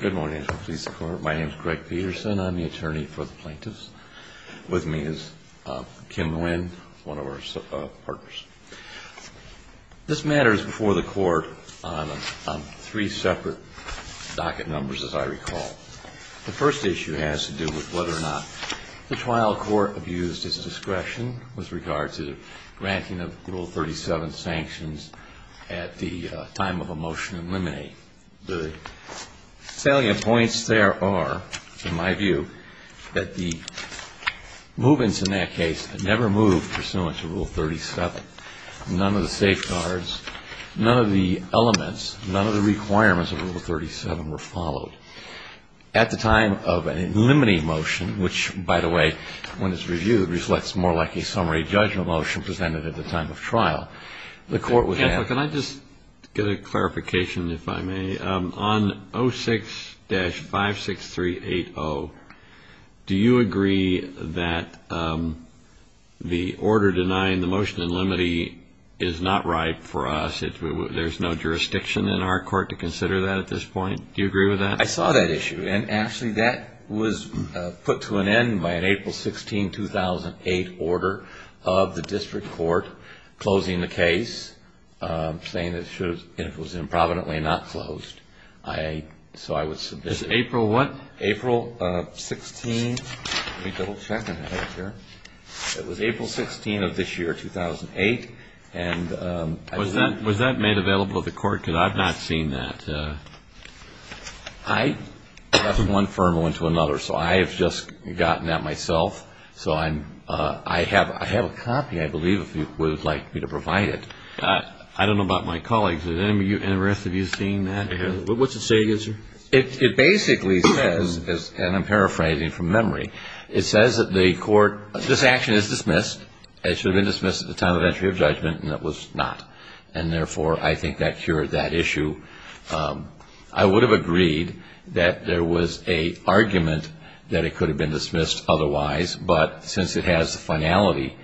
Good morning. My name is Greg Peterson. I'm the attorney for the plaintiffs. With me is Kim Nguyen, one of our partners. This matter is before the court on three separate docket numbers, as I recall. The first issue has to do with whether or not the trial court abused its discretion with regard to granting of Rule 37 sanctions at the time of a motion to eliminate The salient points there are, in my view, that the move-ins in that case never moved pursuant to Rule 37. None of the safeguards, none of the elements, none of the requirements of Rule 37 were followed. At the time of an eliminating motion, which, by the way, when it's reviewed, results more like a summary judgment motion presented at the time of trial, the court would have Well, can I just get a clarification, if I may? On 06-56380, do you agree that the order denying the motion to eliminate is not right for us? There's no jurisdiction in our court to consider that at this point? Do you agree with that? I saw that issue, and, Ashley, that was put to an end by an April 16, 2008, order of the district court closing the case, saying that it was improvidently not closed. So I would submit it. April what? April 16. Let me double check. It was April 16 of this year, 2008. Was that made available to the court? Because I've not seen that. And I have one firm one to another, so I have just gotten that myself. So I have a copy, I believe, if you would like me to provide it. I don't know about my colleagues. Are the rest of you seeing that? What's it say? It basically says, and I'm paraphrasing from memory, it says that the court, this action is dismissed. It should have been dismissed at the time of entry of judgment, and it was not. And, therefore, I think that cured that issue. I would have agreed that there was an argument that it could have been dismissed otherwise, but since it has the finality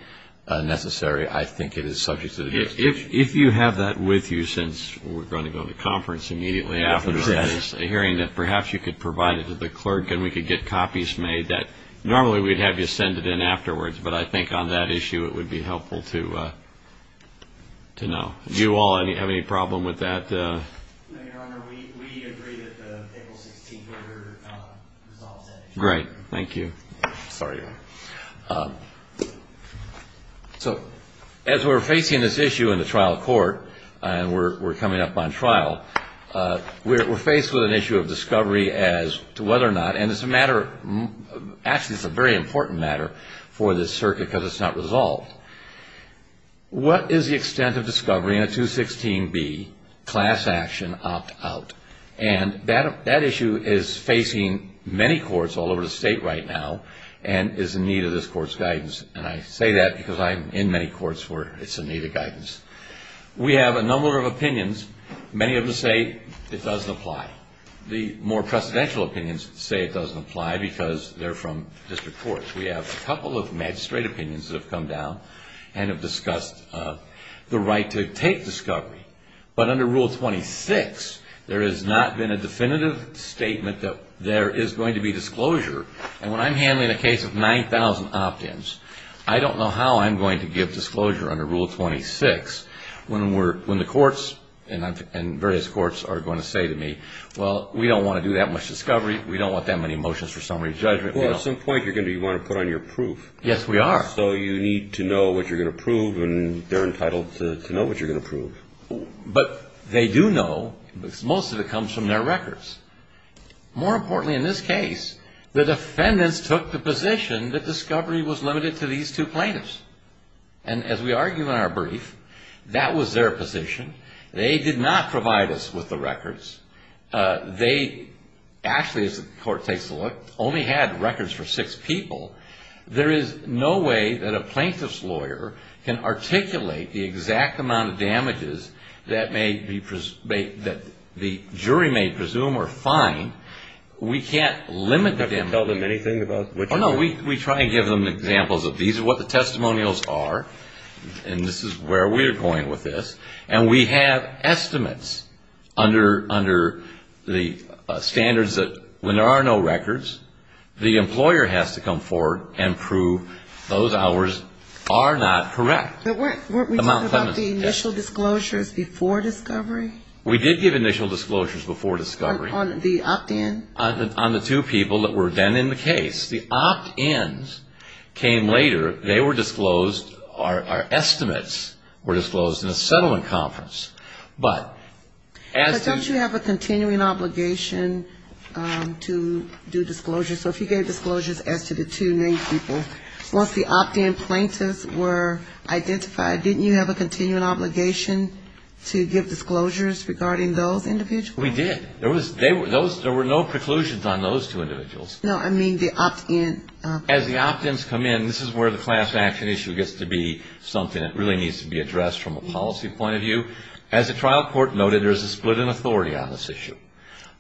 necessary, I think it is subject to the district court. If you have that with you, since we're going to go to conference immediately after this hearing, that perhaps you could provide it to the clerk and we could get copies made that normally we'd have you send it in afterwards, but I think on that issue it would be helpful to know. Do you all have any problem with that? No, Your Honor. We agree that the April 16th order resolves that issue. Great. Thank you. Sorry. So as we're facing this issue in the trial court, and we're coming up on trial, we're faced with an issue of discovery as to whether or not, and it's a matter, actually it's a very important matter for this circuit because it's not resolved. What is the extent of discovery in a 216B class action opt-out? And that issue is facing many courts all over the state right now and is in need of this court's guidance, and I say that because I'm in many courts where it's in need of guidance. We have a number of opinions. Many of them say it doesn't apply. The more precedential opinions say it doesn't apply because they're from district courts. We have a couple of magistrate opinions that have come down and have discussed the right to take discovery, but under Rule 26 there has not been a definitive statement that there is going to be disclosure, and when I'm handling a case of 9,000 opt-ins, I don't know how I'm going to give disclosure under Rule 26 when the courts and various courts are going to say to me, well, we don't want to do that much discovery. We don't want that many motions for summary judgment. Well, at some point you're going to want to put on your proof. Yes, we are. So you need to know what you're going to prove, and they're entitled to know what you're going to prove. But they do know because most of it comes from their records. More importantly in this case, the defendants took the position that discovery was limited to these two plaintiffs, and as we argue in our brief, that was their position. They did not provide us with the records. They actually, as the court takes a look, only had records for six people. There is no way that a plaintiff's lawyer can articulate the exact amount of damages that the jury may presume are fine. We can't limit the damages. You can't tell them anything about which of them? Oh, no, we try and give them examples of these are what the testimonials are, and this is where we're going with this. And we have estimates under the standards that when there are no records, the employer has to come forward and prove those hours are not correct. But weren't we talking about the initial disclosures before discovery? We did give initial disclosures before discovery. On the opt-in? On the two people that were then in the case. The opt-ins came later. They were disclosed. Our estimates were disclosed in a settlement conference. But as to the... But don't you have a continuing obligation to do disclosures? So if you gave disclosures as to the two named people, once the opt-in plaintiffs were identified, didn't you have a continuing obligation to give disclosures regarding those individuals? We did. There were no preclusions on those two individuals. No, I mean the opt-in. As the opt-ins come in, this is where the class action issue gets to be something that really needs to be addressed from a policy point of view. As the trial court noted, there's a split in authority on this issue.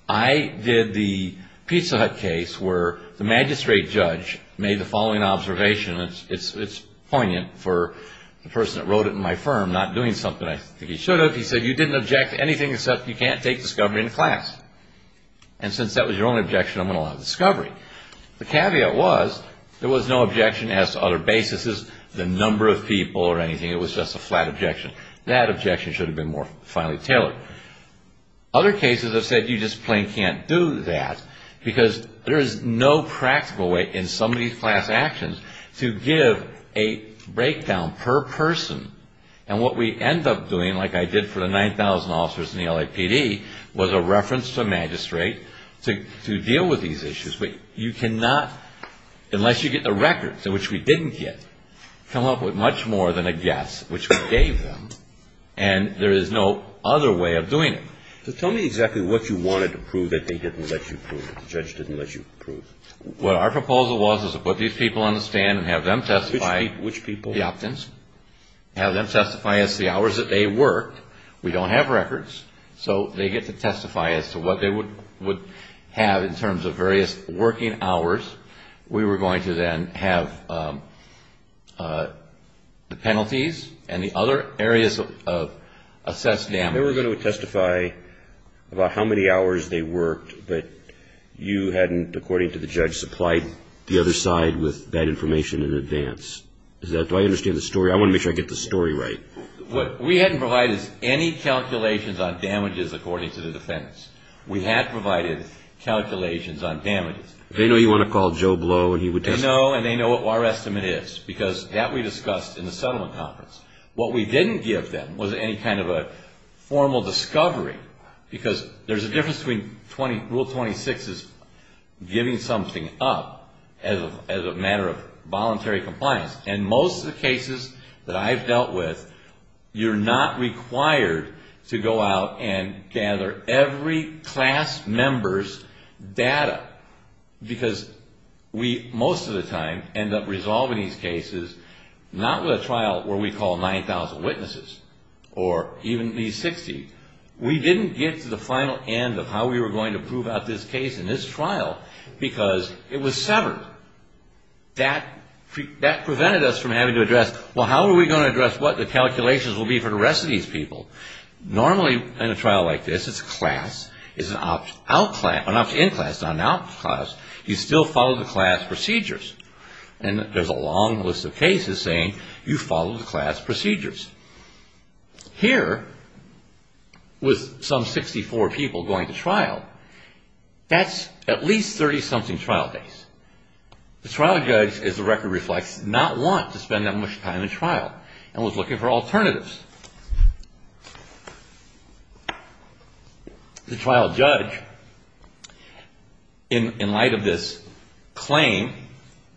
I did the Pizza Hut case where the magistrate judge made the following observation, and it's poignant for the person that wrote it in my firm not doing something I think he should have. He said, you didn't object to anything except you can't take discovery into class. And since that was your only objection, I'm going to allow discovery. The caveat was there was no objection as to other basis, the number of people or anything. It was just a flat objection. That objection should have been more finely tailored. Other cases have said you just plain can't do that because there is no practical way in some of these class actions to give a breakdown per person. And what we end up doing, like I did for the 9,000 officers in the LAPD, was a reference to a magistrate to deal with these issues. But you cannot, unless you get the records, which we didn't get, come up with much more than a guess, which we gave them, and there is no other way of doing it. So tell me exactly what you wanted to prove that they didn't let you prove, the judge didn't let you prove. What our proposal was is to put these people on the stand and have them testify. Which people? The opt-ins. Have them testify as to the hours that they worked. We don't have records, so they get to testify as to what they would have in terms of various working hours. We were going to then have the penalties and the other areas of assessed damage. They were going to testify about how many hours they worked, but you hadn't, according to the judge, supplied the other side with that information in advance. Do I understand the story? I want to make sure I get the story right. What we hadn't provided is any calculations on damages according to the defense. We had provided calculations on damages. They know you want to call Joe Blow and he would testify. They know, and they know what our estimate is, because that we discussed in the settlement conference. What we didn't give them was any kind of a formal discovery, because there's a difference between Rule 26 is giving something up as a matter of voluntary compliance. In most of the cases that I've dealt with, you're not required to go out and gather every class member's data, because we, most of the time, end up resolving these cases not with a trial where we call 9,000 witnesses or even at least 60. We didn't get to the final end of how we were going to prove out this case in this trial, because it was severed. That prevented us from having to address, well, how are we going to address what the calculations will be for the rest of these people? Normally, in a trial like this, it's a class. It's an opt-in class, not an opt-out class. You still follow the class procedures. And there's a long list of cases saying you follow the class procedures. Here, with some 64 people going to trial, that's at least 30-something trial days. The trial judge, as the record reflects, did not want to spend that much time in trial and was looking for alternatives. The trial judge, in light of this claim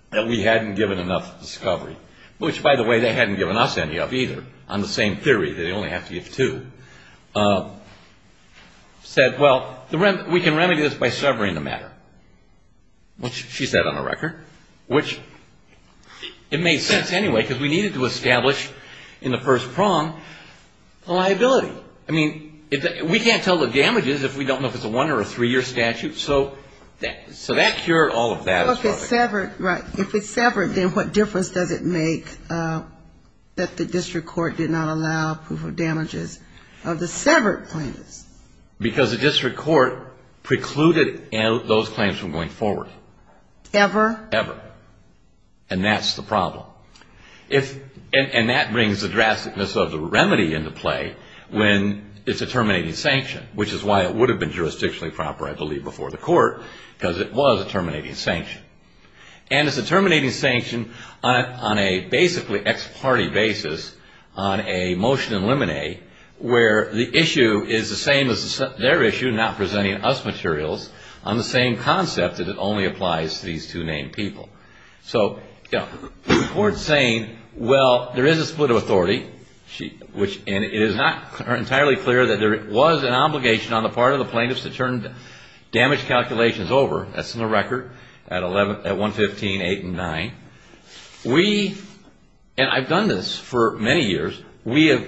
that we hadn't given enough discovery, which, by the way, they hadn't given us any of either, on the same theory, they only have to give two, said, well, we can remedy this by severing the matter, which she said on the record, which it made sense anyway, because we needed to establish in the first prong the liability. I mean, we can't tell the damages if we don't know if it's a one- or a three-year statute. So that cured all of that. If it's severed, then what difference does it make that the district court did not allow proof of damages of the severed claims? Because the district court precluded those claims from going forward. Ever? Ever. And that's the problem. And that brings the drasticness of the remedy into play when it's a terminating sanction, which is why it would have been jurisdictionally proper, I believe, before the court, because it was a terminating sanction. And it's a terminating sanction on a basically ex parte basis, on a motion in limine, where the issue is the same as their issue, not presenting us materials, on the same concept that it only applies to these two named people. So the court's saying, well, there is a split of authority, and it is not entirely clear that there was an obligation on the part of the plaintiffs to turn damage calculations over. That's in the record at 115.8 and 9. We, and I've done this for many years, we have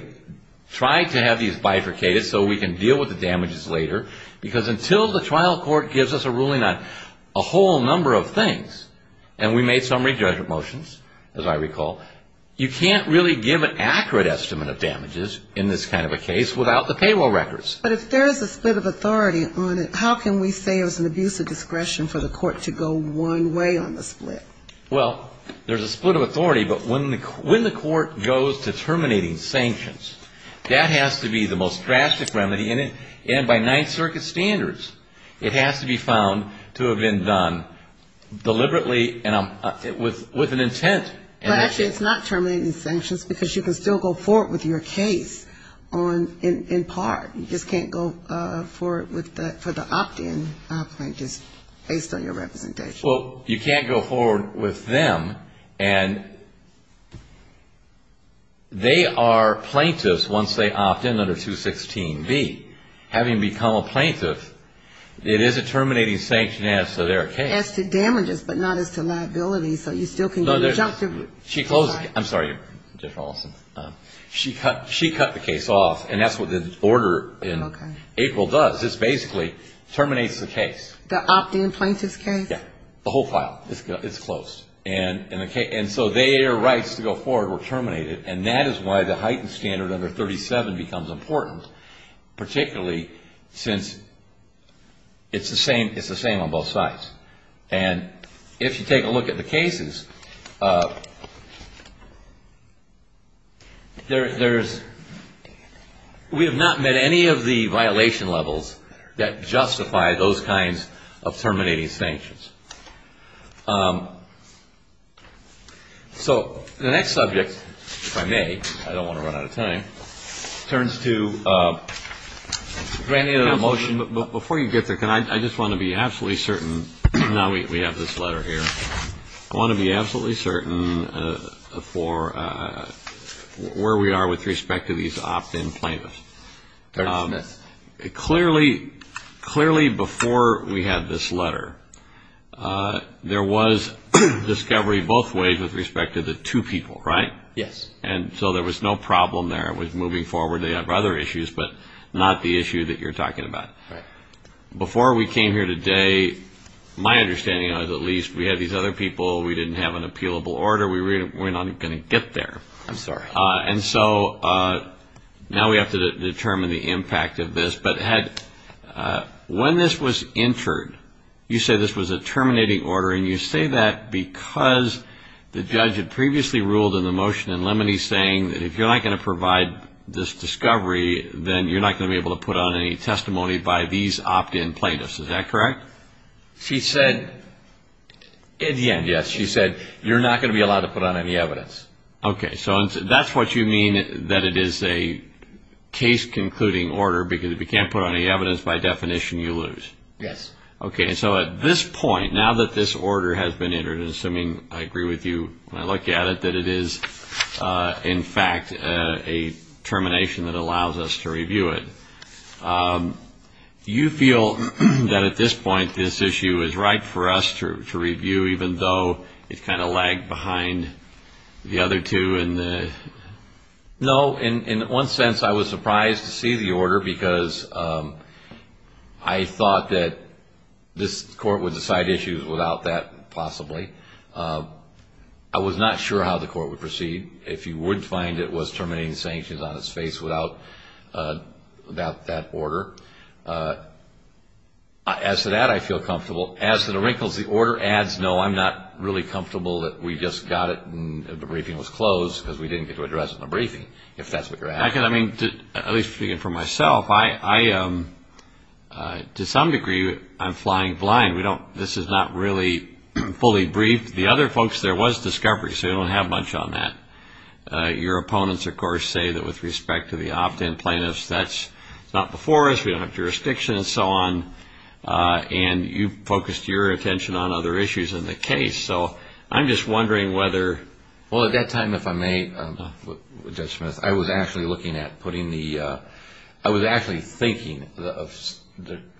tried to have these bifurcated so we can deal with the damages later, because until the trial court gives us a ruling on a whole number of things, and we made some rejudgment motions, as I recall, you can't really give an accurate estimate of damages in this kind of a case without the payroll records. But if there is a split of authority on it, how can we say it was an abuse of discretion for the court to go one way on the split? Well, there's a split of authority, but when the court goes to terminating sanctions, that has to be the most drastic remedy, and by Ninth Circuit standards, it has to be found to have been done deliberately and with an intent. But actually, it's not terminating sanctions, because you can still go forward with your case on, in part. You just can't go forward with the, for the opt-in plaintiffs based on your representation. Well, you can't go forward with them, and they are plaintiffs. Once they opt in under 216B, having become a plaintiff, it is a terminating sanction as to their case. As to damages, but not as to liabilities, so you still can do the judgment. She closed the case. I'm sorry, Judge Rawlinson. She cut the case off, and that's what the order in April does. It basically terminates the case. The opt-in plaintiffs case? Yeah, the whole file. It's closed, and so their rights to go forward were terminated, and that is why the heightened standard under 37 becomes important, particularly since it's the same on both sides. And if you take a look at the cases, there's, we have not met any of the violation levels that justify those kinds of terminating sanctions. So the next subject, if I may, I don't want to run out of time, turns to granting a motion. Before you get there, can I, I just want to be absolutely certain, now we have this letter here. I want to be absolutely certain for where we are with respect to these opt-in plaintiffs. Clearly, before we had this letter, there was discovery both ways with respect to the two people, right? Yes. And so there was no problem there with moving forward. They have other issues, but not the issue that you're talking about. Before we came here today, my understanding is, at least, we had these other people, we didn't have an appealable order, we're not going to get there. I'm sorry. And so now we have to determine the impact of this, but when this was entered, you say this was a terminating order, and you say that because the judge had previously ruled in the motion in Lemony's case that this was a terminating order. She's saying that if you're not going to provide this discovery, then you're not going to be able to put on any testimony by these opt-in plaintiffs. Is that correct? She said, at the end, yes, she said, you're not going to be allowed to put on any evidence. Okay, so that's what you mean, that it is a case concluding order, because if you can't put on any evidence, by definition, you lose. Yes. Okay, so this is, in fact, a termination that allows us to review it. Do you feel that, at this point, this issue is right for us to review, even though it kind of lagged behind the other two? No, in one sense, I was surprised to see the order, because I thought that this Court would decide issues without that, possibly. I was not sure how the Court would proceed. If you would find it was terminating sanctions on its face without that order. As to that, I feel comfortable. As to the wrinkles, the order adds, no, I'm not really comfortable that we just got it and the briefing was closed because we didn't get to address it in a briefing, if that's what you're asking. I mean, at least for myself, to some degree, I'm flying blind. This is not really fully briefed. The other folks, there was discovery, so you don't have much on that. Your opponents, of course, say that with respect to the opt-in plaintiffs, that's not before us, we don't have jurisdiction and so on, and you focused your attention on other issues in the case. I'm just wondering whether, well, at that time, if I may, Judge Smith, I was actually looking at putting the, I was actually thinking,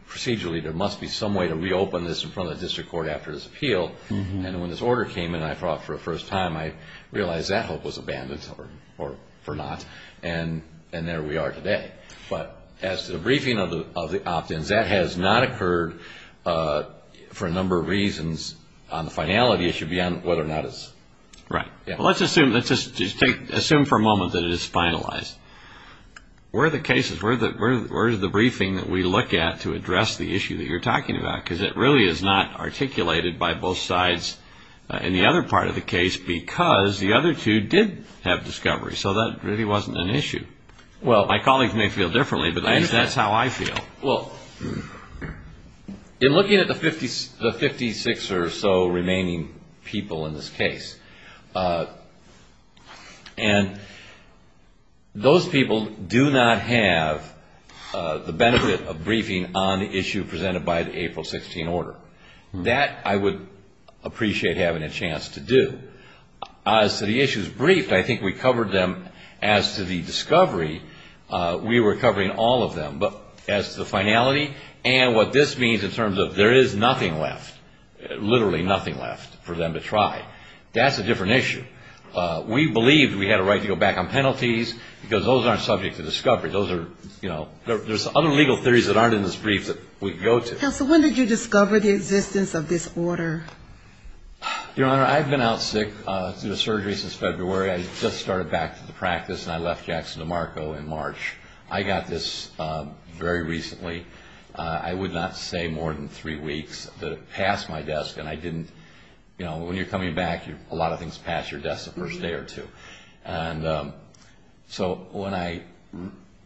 procedurally, there must be some way to reopen this in front of the District Court after this appeal, and when this order came in and I saw it for the first time, I realized that hope was abandoned, or not, and there we are today. But as to the briefing of the opt-ins, that has not occurred for a number of reasons. On the finality, it should be on whether or not it's... Right. Well, let's assume for a moment that it is finalized. Where are the cases, where is the briefing that we look at to address the issue that you're talking about? Because it really is not articulated by both sides in the other part of the case because the other two did have discovery, so that really wasn't an issue. Well, my colleagues may feel differently, but that's how I feel. Well, in looking at the 56 or so remaining people in this case, and those people do not have the benefit of briefing on the issue presented by the April 16 order. That I would appreciate having a chance to do. As to the issues briefed, I think we covered them. As to the discovery, we were covering all of them. But as to the finality and what this means in terms of there is nothing left, literally nothing left for them to try, that's a different issue. We believed we had a right to go back on penalties because those aren't subject to discovery. There's other legal theories that aren't in this brief that we can go to. Counsel, when did you discover the existence of this order? Your Honor, I've been out sick through the surgery since February. I just started back to the practice, and I left Jackson DeMarco in March. I got this very recently. I would not say more than three weeks that it passed my desk, and I didn't, you know, when you're coming back, a lot of things pass your desk the first day or two. And so when I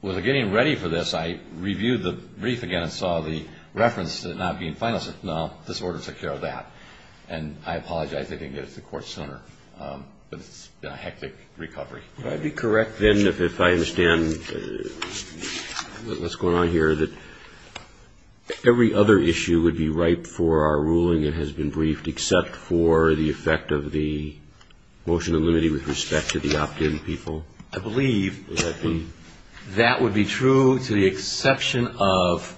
was getting ready for this, I reviewed the brief again and saw the reference to it not being final. I said, no, this order took care of that. And I apologize. I didn't get it to the court sooner. But it's been a hectic recovery. Would I be correct, then, if I understand what's going on here, that every other issue would be ripe for our ruling that has been briefed, except for the effect of the motion of limity with respect to the options? I believe that would be true to the exception of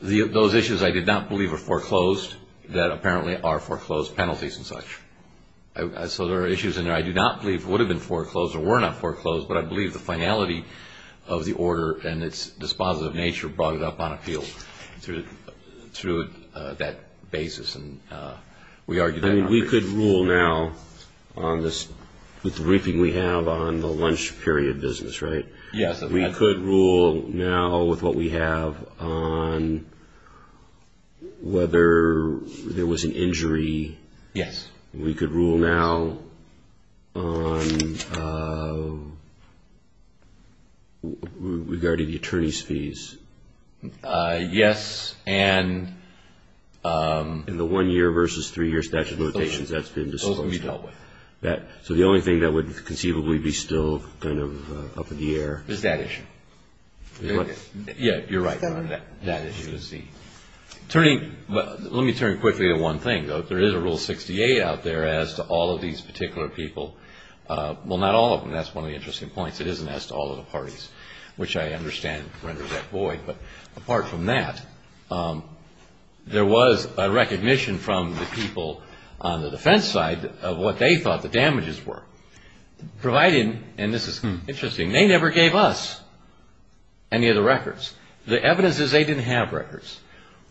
those issues I did not believe were foreclosed that apparently are foreclosed penalties and such. So there are issues in there I do not believe would have been foreclosed or were not foreclosed, but I believe the finality of the order and its dispositive nature brought it up on appeal through that basis, and we argued that. I mean, we could rule now on this, with the briefing we have on the lunch period business, right? Yes. We could rule now with what we have on whether there was an injury. Yes. We could rule now on regarding the attorney's fees. Yes, and... In the one-year versus three-year statute of limitations, that's been disposed of. Those can be dealt with. So the only thing that would conceivably be still kind of up in the air... Is that issue. Yeah, you're right. That issue is the... Let me turn quickly to one thing, though. There is a Rule 68 out there as to all of these particular people. Well, not all of them. That's one of the interesting points. It isn't as to all of the parties, which I understand renders that void. But apart from that, there was a recognition from the people on the defense side of what they thought the damages were. Providing, and this is interesting, they never gave us any of the records. The evidence is they didn't have records.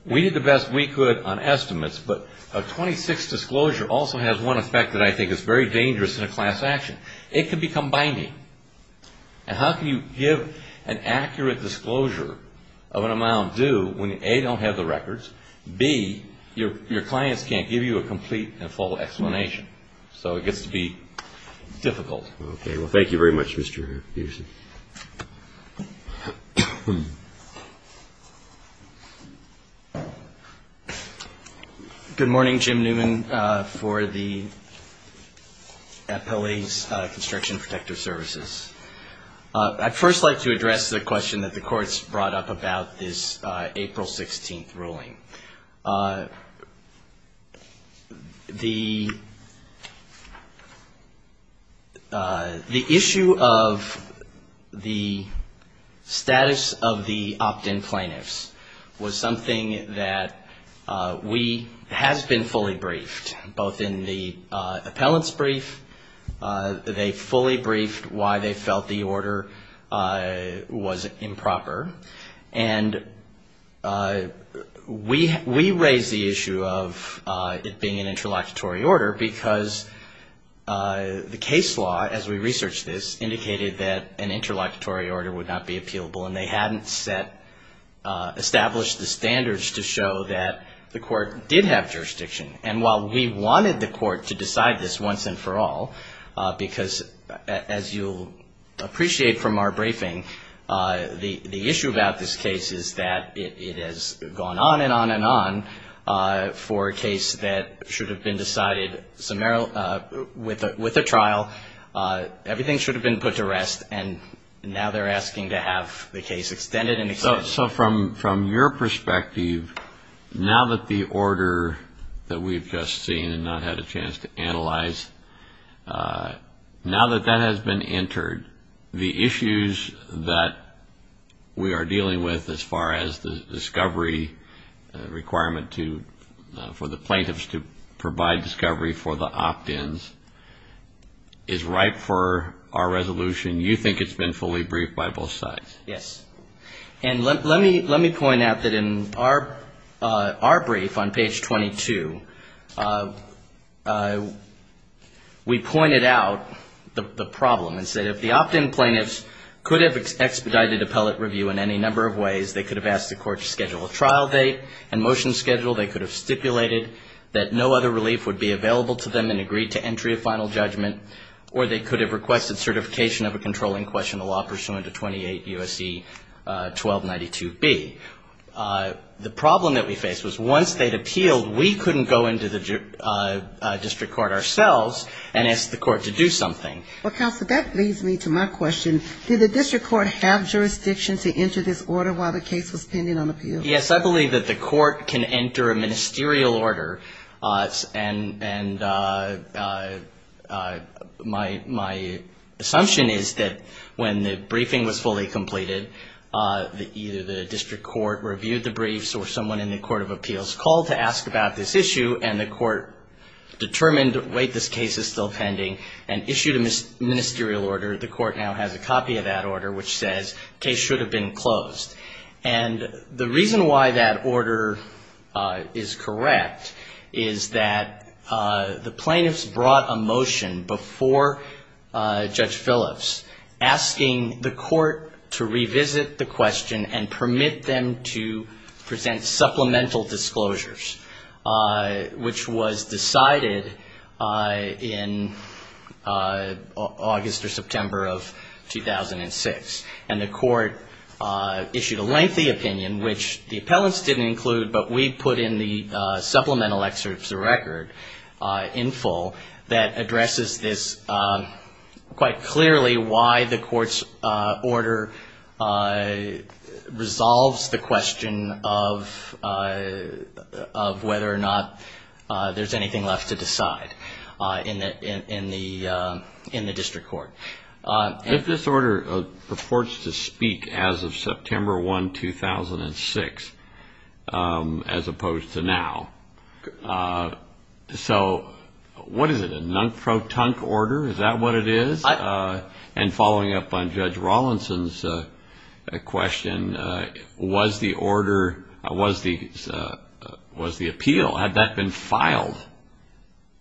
We did the best we could on estimates, but a 26 disclosure also has one effect that I think is very dangerous in a class action. It can become binding. And how can you give an accurate disclosure of an amount due when, A, you don't have the records, B, your clients can't give you a complete and full explanation? So it gets to be difficult. Okay. Well, thank you very much, Mr. Peterson. Thank you. Good morning, Jim Newman, for the Appellee's Construction Protective Services. I'd first like to address the question that the courts brought up about this April 16th ruling. The issue of the status of the opt-in plaintiffs was something that we has been fully briefed, both in the appellant's brief, they fully briefed why they felt the order was improper. And we raised the issue of it being an interlocutory order because the case law, as we researched this, indicated that an interlocutory order would not be appealable and they hadn't established the standards to show that the court did have jurisdiction. And while we wanted the court to decide this once and for all, because as you'll appreciate from our briefing, the issue about this case is that it has gone on and on and on for a case that should have been decided with a trial. Everything should have been put to rest, and now they're asking to have the case extended and extended. So from your perspective, now that the order that we've just seen and not had a chance to analyze, now that that has been entered, the issues that we are dealing with as far as the discovery requirement for the plaintiffs to provide discovery for the opt-ins, is ripe for our resolution. You think it's been fully briefed by both sides? Yes. And let me point out that in our brief on page 22, we pointed out the problem and said if the opt-in plaintiffs could have expedited appellate review in any number of ways, they could have asked the court to schedule a trial date and motion schedule, they could have stipulated that no other relief would be available to them and agreed to entry of final judgment, or they could have requested certification of a controlling question, a law pursuant to 28 U.S.C. 1292B. The problem that we faced was once they'd appealed, we couldn't go into the district court ourselves and ask the court to do something. Well, counsel, that leads me to my question. Did the district court have jurisdiction to enter this order while the case was pending on appeal? Yes, I believe that the court can enter a ministerial order, and my assumption is that the court can enter a ministerial order and when the briefing was fully completed, either the district court reviewed the briefs or someone in the court of appeals called to ask about this issue, and the court determined, wait, this case is still pending, and issued a ministerial order. The court now has a copy of that order, which says case should have been closed. And the reason why that order is correct is that the plaintiffs brought a motion before Judge Phillips asking the court to revisit the question and permit them to present supplemental disclosures, which was decided in August or September of 2006. And the court issued a lengthy opinion, which the appellants didn't include, but we put in the supplemental excerpts of the court's opinion, and that is quite clearly why the court's order resolves the question of whether or not there's anything left to decide in the district court. If this order purports to speak as of September 1, 2006, as opposed to now, so what is it, a non-fraud order? Is that what it is? And following up on Judge Rawlinson's question, was the order, was the appeal, had that been filed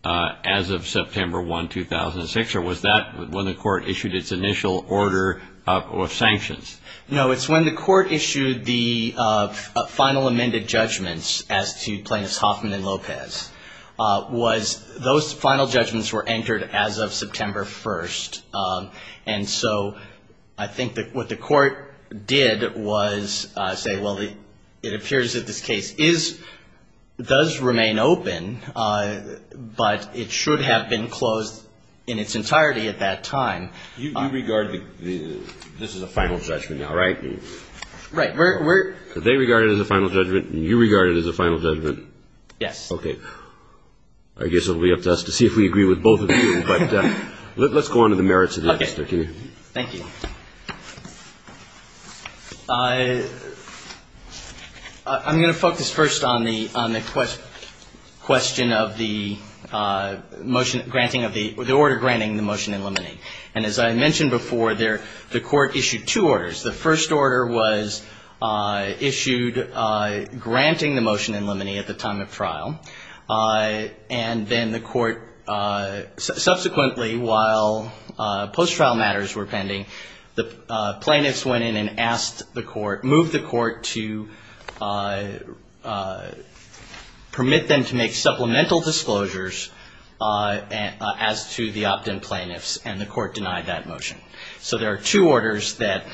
as of September 1, 2006, or was that when the court issued its initial order of sanctions? No, it's when the court issued the final amended judgments as to plaintiffs Hoffman and Lopez. Those final judgments were entered as of September 1, 2006. And so I think what the court did was say, well, it appears that this case does remain open, but it should have been closed in its entirety at that time. You regard this as a final judgment now, right? Right. They regard it as a final judgment, and you regard it as a final judgment? Yes. Okay. I guess it will be up to us to see if we agree with both of you, but let's go on to the merits of that. Okay. Thank you. I'm going to focus first on the question of the motion granting of the, the order granting the motion in limine. And as I mentioned before, there, the court issued two orders. The first order was issued granting the motion in limine at the time of trial, and then the court subsequently, while post-trial matters were pending, the plaintiffs went in and asked the court, moved the court to permit them to make supplemental disclosures as to the opt-in plaintiffs, and the court denied that motion. So there are two orders that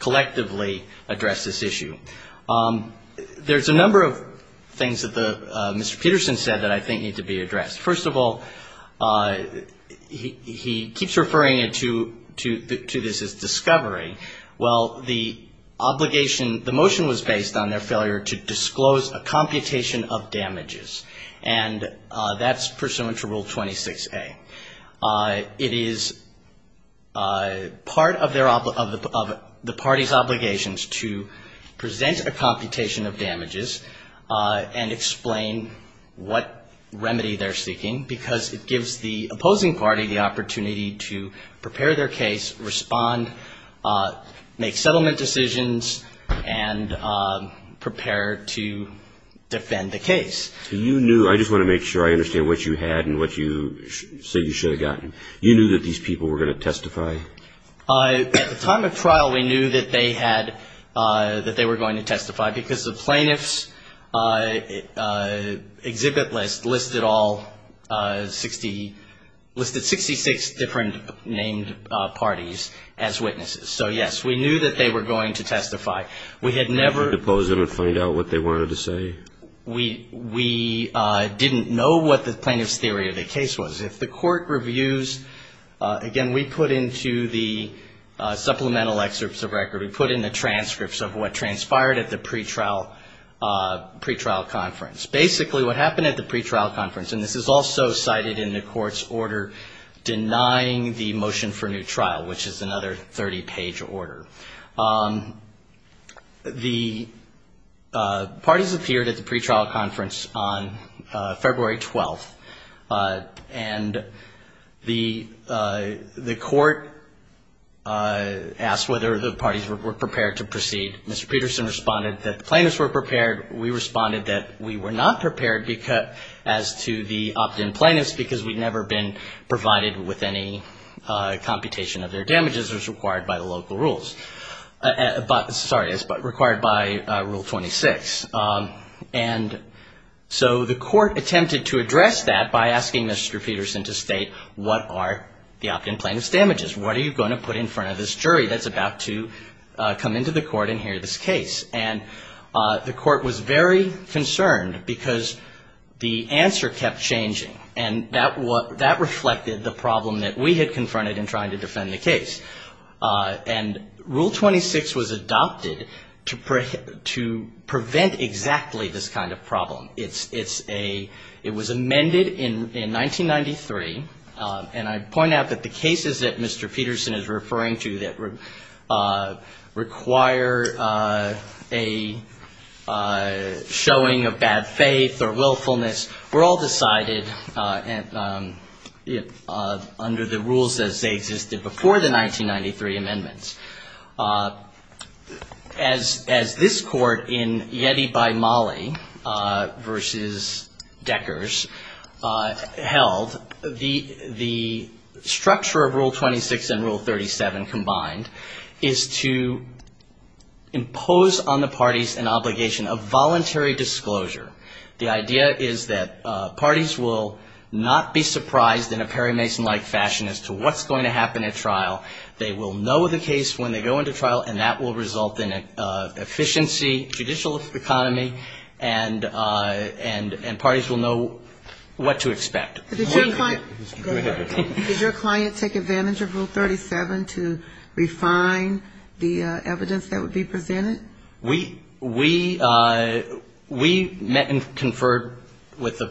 collectively address this issue. There's a number of things that Mr. Peterson said that I think need to be addressed. First of all, he keeps referring to this as discovery. Well, the obligation, the motion was based on their failure to disclose a computation of damages, and that's pursuant to Rule 26A. Part of their, of the party's obligations to present a computation of damages and explain what remedy they're seeking, because it gives the opposing party the opportunity to prepare their case, respond, make settlement decisions, and prepare to defend the case. You knew, I just want to make sure I understand what you had and what you said you should have gotten. You knew that these people were going to testify? At the time of trial, we knew that they had, that they were going to testify, because the plaintiffs' exhibit list listed all 60, listed 66 different named parties as witnesses. So, yes, we knew that they were going to testify. We had never... We didn't know what the plaintiff's theory of the case was. If the court reviews, again, we put into the supplemental excerpts of record, we put in the transcripts of what transpired at the pretrial conference. Basically, what happened at the pretrial conference, and this is also cited in the court's order denying the motion for new trial, which is another 30-page order. The parties appeared at the pretrial conference on February 12, and the court asked whether the parties were prepared to proceed. Mr. Peterson responded that the plaintiffs were prepared. We responded that we were not prepared as to the opt-in plaintiffs, because we'd never been provided with any computation of damages. We'd never been provided with any computation of their damages as required by the local rules. Sorry, as required by Rule 26. And so the court attempted to address that by asking Mr. Peterson to state what are the opt-in plaintiffs' damages. What are you going to put in front of this jury that's about to come into the court and hear this case? And the court was very concerned, because the answer kept changing, and that reflected the problem that we had confronted in trying to defend the case. And Rule 26 was adopted to prevent exactly this kind of problem. It was amended in 1993, and I point out that the cases that Mr. Peterson is referring to that require a showing of bad faith or willfulness were all decided under the rules as they existed before the 1993 amendments. As this court in Yeti by Mollie v. Deckers held, the structure of Rule 26 and Rule 37 combined is to impose on the parties an obligation of voluntary disclosure. The idea is that parties will not be surprised in a Perry Mason-like fashion as to what's going to happen at trial. They will know the case when they go into trial, and that will result in an efficiency judicial economy, and parties will know what to expect. Go ahead. Did your client take advantage of Rule 37 to refine the evidence that would be presented? I met and conferred with the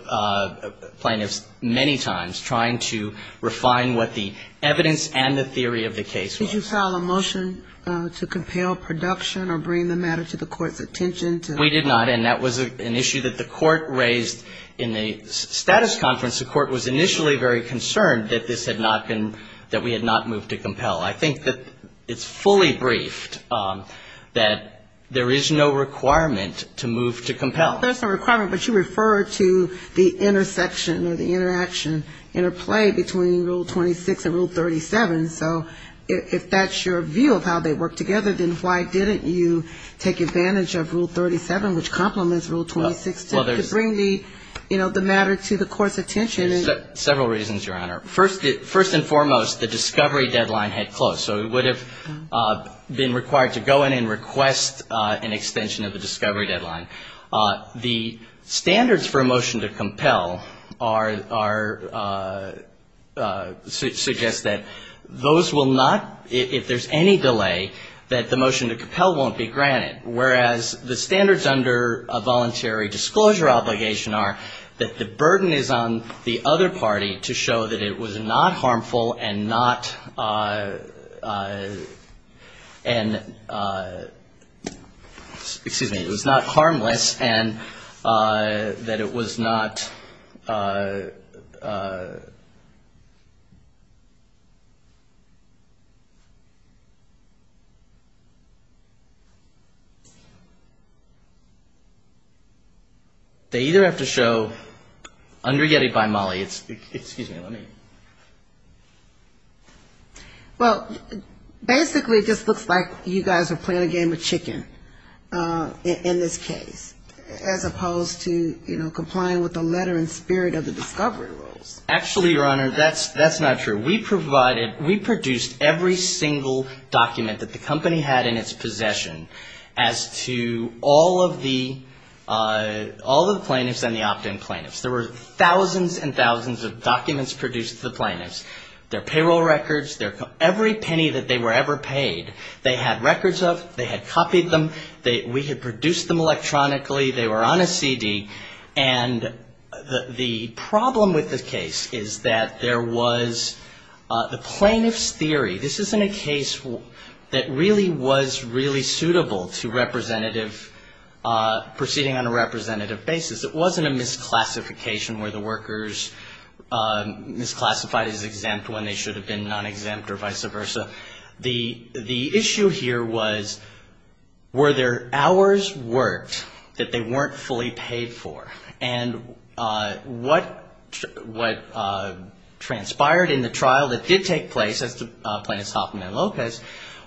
plaintiffs many times trying to refine what the evidence and the theory of the case was. Did you file a motion to compel production or bring the matter to the court's attention? We did not, and that was an issue that the court raised in the status conference. The court was initially very concerned that this had not been, that we had not moved to compel. I think that it's fully briefed that there is no requirement to move to compel. But you refer to the intersection or the interaction, interplay between Rule 26 and Rule 37. So if that's your view of how they work together, then why didn't you take advantage of Rule 37, which complements Rule 26, to bring the, you know, the matter to the court's attention? There's several reasons, Your Honor. First and foremost, the discovery deadline had closed, so it would have been required to go in and request an extension of the discovery deadline. Standards for a motion to compel are, suggest that those will not, if there's any delay, that the motion to compel won't be granted, whereas the standards under a voluntary disclosure obligation are that the burden is on the other party to show that it was not harmful and not, and, excuse me, it was not harmless and that it was not, they either have to show, under YETI by Mollie, it's, excuse me, let me. Well, basically it just looks like you guys are playing a game of chicken in this case, as opposed to, you know, if you're playing a game of chess. Are you going to, you know, comply with the letter and spirit of the discovery rules? Actually, Your Honor, that's not true. We provided, we produced every single document that the company had in its possession as to all of the, all of the plaintiffs and the opt-in plaintiffs. There were thousands and thousands of documents produced to the plaintiffs. They're payroll records, they're every penny that they were ever paid. They had records of, they had copied them, we had produced them electronically, they were on a CD. And the problem with the case is that there was the plaintiff's theory. This isn't a case that really was really suitable to representative, proceeding on a representative basis. It wasn't a misclassification where the workers misclassified as exempt when they should have been non-exempt or vice versa. The issue here was, were there hours worked that they weren't fully paid for? And what transpired in the trial that did take place, as did Plaintiff's Hoffman and Lopez,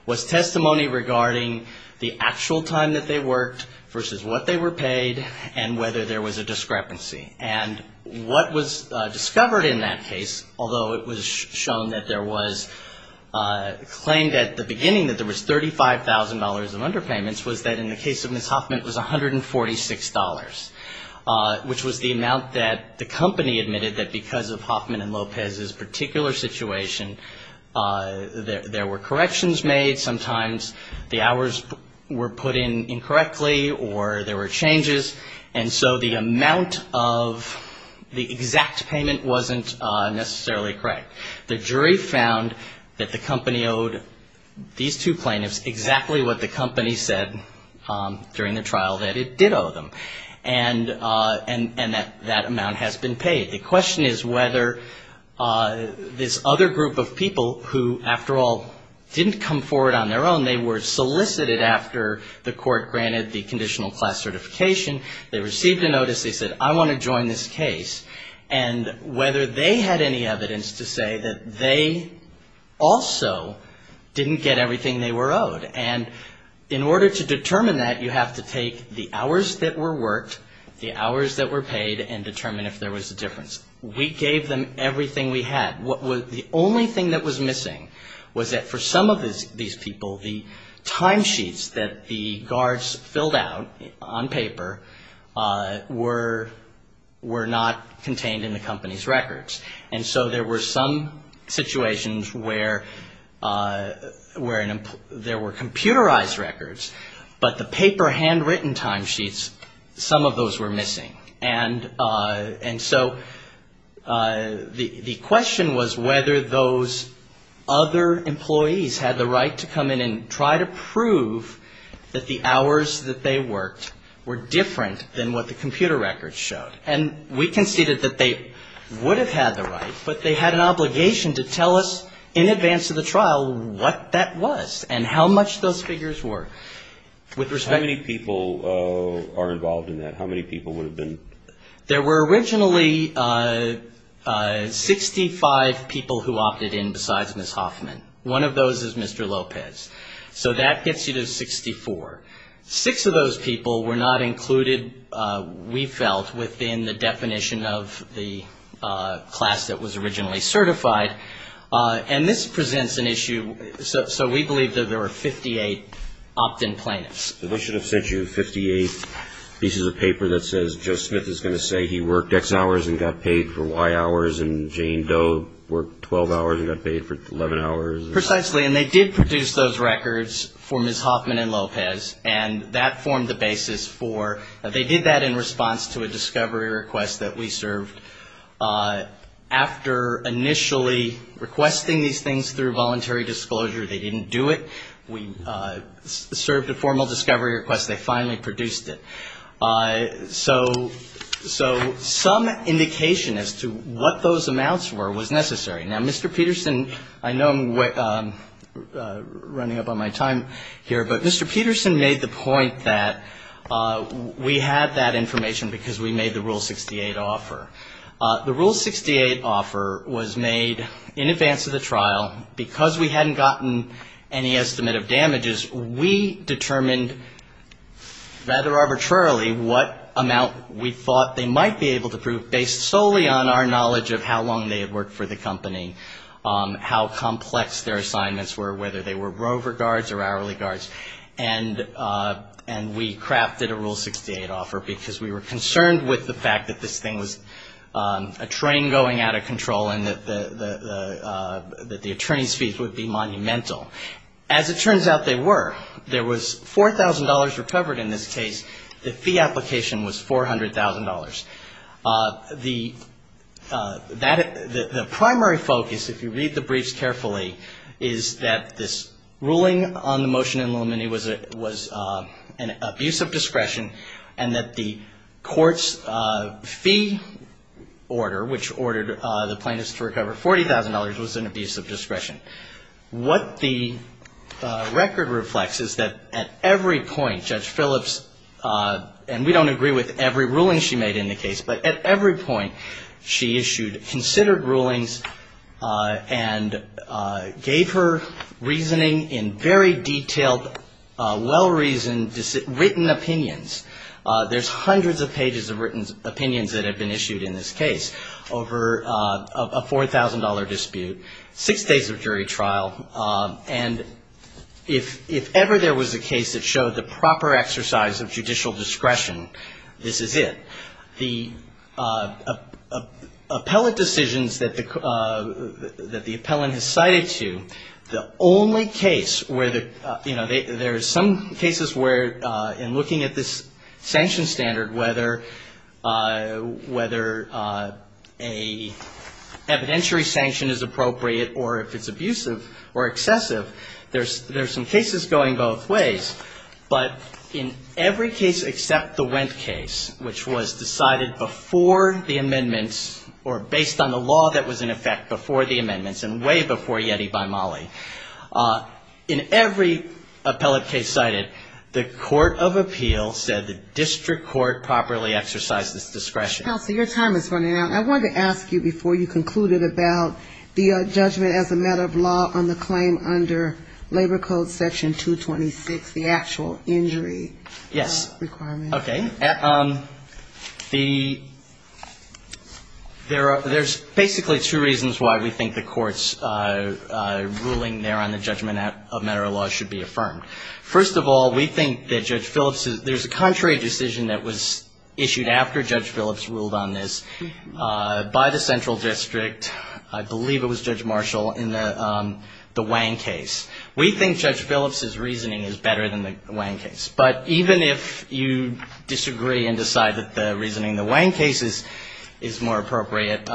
was testimony regarding the actual time that they worked versus what they were paid and whether there was a discrepancy. And what was discovered in that case, although it was shown that there was, claimed at the beginning that there was $35,000 of underpayments, was that in the case of Ms. Hoffman it was $146, which was the amount that the company admitted that because of Hoffman and Lopez's particular situation, there were corrections made, sometimes the hours were put in incorrectly or there were changes, and so the amount of the exact payment wasn't necessarily correct. The jury found that the company owed these two plaintiffs exactly what the company said during the trial, that it did owe them. And that amount has been paid. The question is whether this other group of people who, after all, didn't come forward on their own, they were solicited after the court granted the conditional class certification, they received a notice, they said, I want to join this case, and whether they had any evidence to say that they also didn't get everything they were owed. And in order to determine that, you have to take the hours that were worked, the hours that were paid, and determine if there was a difference. We gave them everything we had. The only thing that was missing was that for some of these people, the timesheets that the guards filled out on paper were not contained in the company's records. And so there were some situations where there were computerized records, but the paper handwritten timesheets, some of those were missing. And so the question was whether those other employees had the right to come in and try to prove that the hours that they worked were different than what the computer records showed. And we conceded that they would have had the right, but they had an obligation to tell us in advance of the trial what that was and how much those figures were. How many people are involved in that? How many people would have been? There were originally 65 people who opted in besides Ms. Hoffman. One of those is Mr. Lopez. So that gets you to 64. Six of those people were not included, we felt, within the definition of the class that was originally certified. And this presents an issue, so we believe that there were 58 opt-in plaintiffs. They should have sent you 58 pieces of paper that says Joe Smith is going to say he worked X hours and got paid for Y hours and Jane Doe worked 12 hours and got paid for 11 hours. Precisely, and they did produce those records for Ms. Hoffman and Lopez, and that formed the basis for, they did that in response to a discovery request that we served. After initially requesting these things through voluntary disclosure, they didn't do it. We served a formal discovery request, they finally produced it. So some indication as to what those amounts were was necessary. Now, Mr. Peterson, I know I'm running up on my time here, but Mr. Peterson made the point that we had that information because we made the Rule 68 offer. The Rule 68 offer was made in advance of the trial, because we hadn't gotten any estimate of damages. We determined, rather arbitrarily, what amount we thought they might be able to prove, based solely on our knowledge of how long they had worked for the company, how complex their assignments were, whether they were rover guards or hourly guards. And we crafted a Rule 68 offer because we were concerned with the fact that this thing was not going to be approved. A train going out of control, and that the attorney's fees would be monumental. As it turns out, they were. There was $4,000 recovered in this case. The fee application was $400,000. The primary focus, if you read the briefs carefully, is that this ruling on the motion in Lomini was an abuse of discretion, and that the court's fee was $400,000. And the second order, which ordered the plaintiffs to recover $40,000, was an abuse of discretion. What the record reflects is that at every point, Judge Phillips, and we don't agree with every ruling she made in the case, but at every point, she issued considered rulings and gave her reasoning in very detailed, well-reasoned, written opinions. There's hundreds of pages of written opinions that have been issued in this case, over a $4,000 dispute, six days of jury trial, and if ever there was a case that showed the proper exercise of judicial discretion, this is it. The appellate decisions that the appellant has cited to, the only case where there's some cases where, in looking at this particular case, the only case where the plaintiff's decision was not a judgment. standard, whether a evidentiary sanction is appropriate or if it's abusive or excessive, there's some cases going both ways. But in every case except the Wendt case, which was decided before the amendments, or based on the law that was in effect before the amendments, and way before Yeti by Malley, in every appellate case cited, the court of appeal said that the plaintiff's decision was not a judgment. The district court properly exercised its discretion. I wanted to ask you before you concluded about the judgment as a matter of law on the claim under Labor Code Section 226, the actual injury requirement. Yes. Okay. There's basically two reasons why we think the Court's ruling there on the judgment as a matter of law should be affirmed. First of all, we think that Judge Phillips's – there's a contrary decision that was issued after Judge Phillips ruled on this by the central district, I believe it was Judge Marshall, in the Wang case. We think Judge Phillips's reasoning is better than the Wang case. But even if you disagree and decide that the reasoning in the Wang case is more appropriate,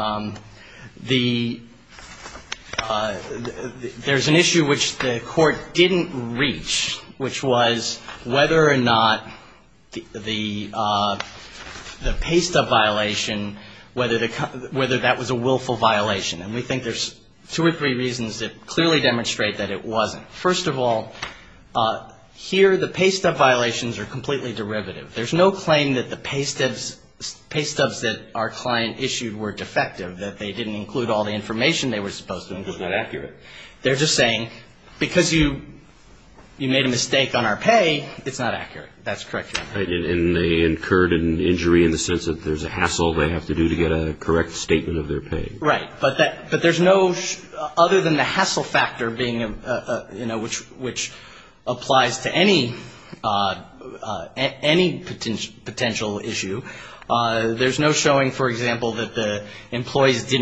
there's an issue which the Court didn't reach, which was whether or not the PASTA violation, whether that was a willful violation. And we think there's two or three reasons that clearly demonstrate that it wasn't. First of all, here the PASTA violations are completely derivative. There's no claim that the PASTAs that our client issued were defective, that they didn't include all the information they were supposed to include. That's not accurate. They're just saying because you made a mistake on our pay, it's not accurate. That's correct, Your Honor. And they incurred an injury in the sense that there's a hassle they have to do to get a correct statement of their pay. Right. But there's no – other than the hassle factor being – which applies to any potential issue, there's no showing, for example, that the PASTA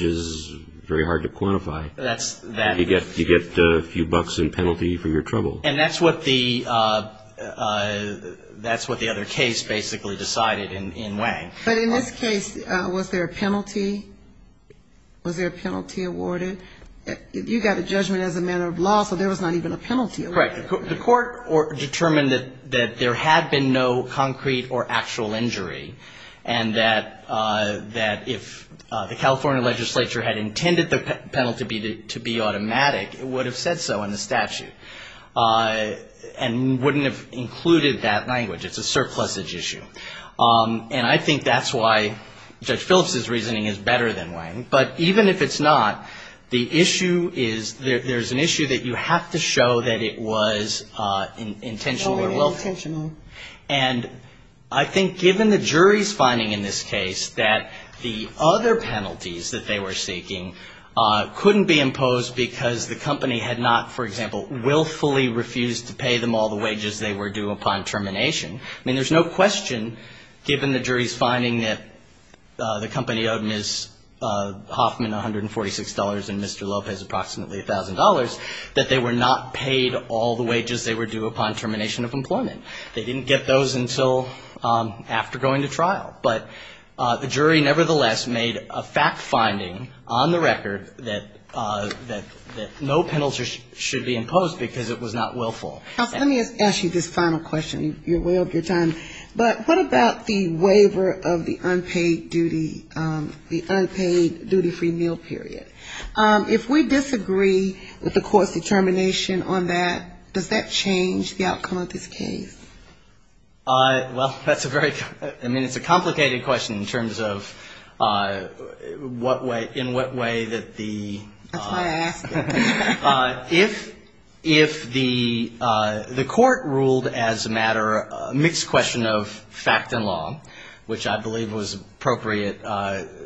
was very hard to quantify. You get a few bucks in penalty for your trouble. And that's what the other case basically decided in Wang. But in this case, was there a penalty? Was there a penalty awarded? You got a judgment as a matter of law, so there was not even a penalty awarded. That's correct. The court determined that there had been no concrete or actual injury, and that if the California legislature had intended the penalty to be automatic, it would have said so in the statute, and wouldn't have included that language. It's a surplusage issue. And I think that's why Judge Phillips's reasoning is better than Wang. But even if it's not, the issue is – there's an issue that you have to show that it was intentional or willful. And I think given the jury's finding in this case that the other penalties that they were seeking couldn't be imposed because the company had not, for example, willfully refused to pay them all the wages they were due upon termination. I mean, there's no question, given the jury's finding that the company owed Ms. Hoffman $146 and Mr. Lopez approximately $1,000, that they were not paid all the wages they were due upon termination of employment. They didn't get those until after going to trial. But the jury, nevertheless, made a fact-finding on the record that no penalty should be imposed because it was not willful. Let me ask you this final question. You're way over your time. But what about the waiver of the unpaid duty – the unpaid duty-free meal period? If we disagree with the court's determination on that, does that change the outcome of this case? Well, that's a very – I mean, it's a complicated question in terms of what way – in what way that the – That's why I asked it. If the court ruled as a matter – a mixed question of fact and law, which I believe was appropriate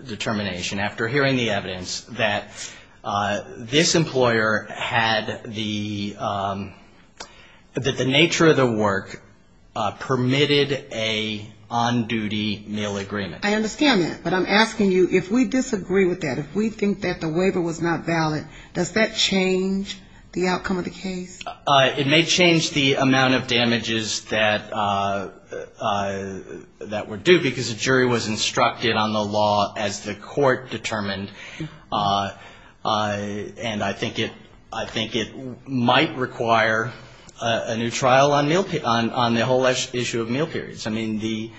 determination after hearing the evidence that this employer had the – that the nature of the work permitted a on-duty meal agreement. I understand that. But I'm asking you, if we disagree with that, if we think that the waiver was not valid, does that change the outcome of the case? It may change the amount of damages that were due, because the jury was instructed on the law as the court determined. And I think it – I think it might require a new trial on meal – on the whole issue of meal periods. I mean, the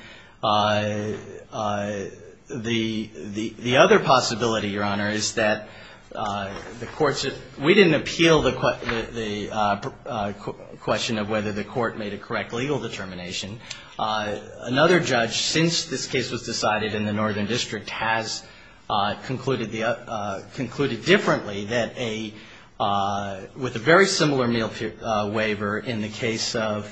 – the other possibility, Your Honor, is that the courts – we didn't agree on that. I would appeal the question of whether the court made a correct legal determination. Another judge, since this case was decided in the Northern District, has concluded the – concluded differently that a – with a very similar meal waiver in the case of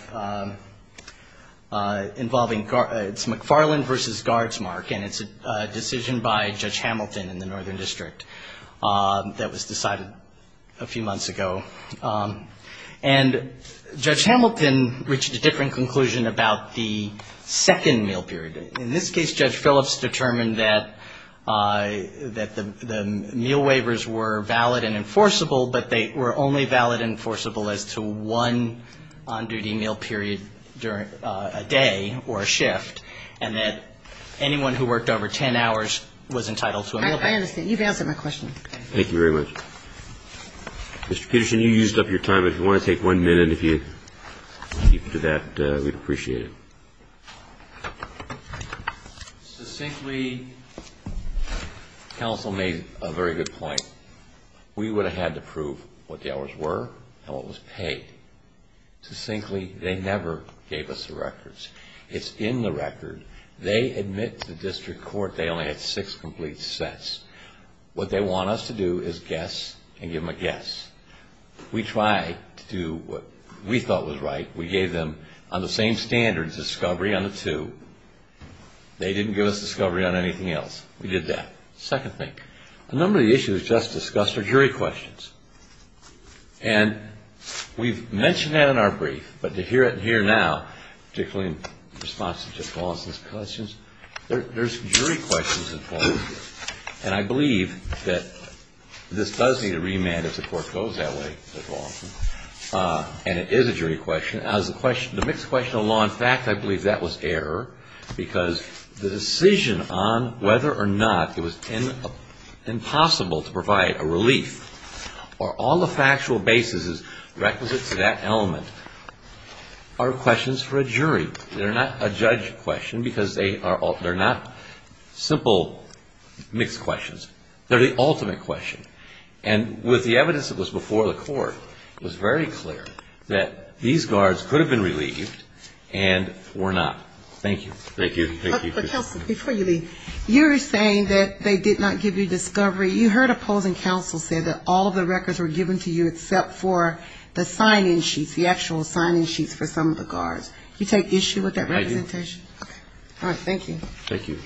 involving – it's McFarland v. Guardsmark. And it's a decision by Judge Hamilton in the Northern District that was decided a few months ago. And Judge Hamilton reached a different conclusion about the second meal period. In this case, Judge Phillips determined that the meal waivers were valid and enforceable, but they were only valid and enforceable as to one on-duty meal period during a day or a shift, and that anyone who worked over 10 hours was entitled to a meal period. I understand. You've answered my question. Thank you very much. Mr. Peterson, you used up your time. If you want to take one minute, if you could do that, we'd appreciate it. Succinctly, counsel made a very good point. We would have had to prove what the hours were and what was paid. Succinctly, they never gave us the records. It's in the record. They admit to the district court they only had six complete sets. What they want us to do is guess and give them a guess. We tried to do what we thought was right. We gave them, on the same standards, discovery on the two. They didn't give us discovery on anything else. We did that. Second thing, a number of the issues just discussed are jury questions. And we've mentioned that in our brief, but to hear it here now, particularly in response to Judge Lawson's questions, there's jury questions involved here. And I believe that this does need a remand if the court goes that way, Judge Lawson, and it is a jury question. As the mixed question of law, in fact, I believe that was error, because the decision on whether or not it was impossible to provide a relief or all the factual basis is requisite to that element are questions for a jury. They're not a judge question, because they're not simple mixed questions. They're the ultimate question. And with the evidence that was before the court, it was very clear that these guards could have been relieved and were not. Thank you. You're saying that they did not give you discovery. You heard opposing counsel say that all of the records were given to you except for the sign-in sheets, the actual sign-in sheets for some of the guards. You take issue with that representation? I do. All right. Thank you. Thank you.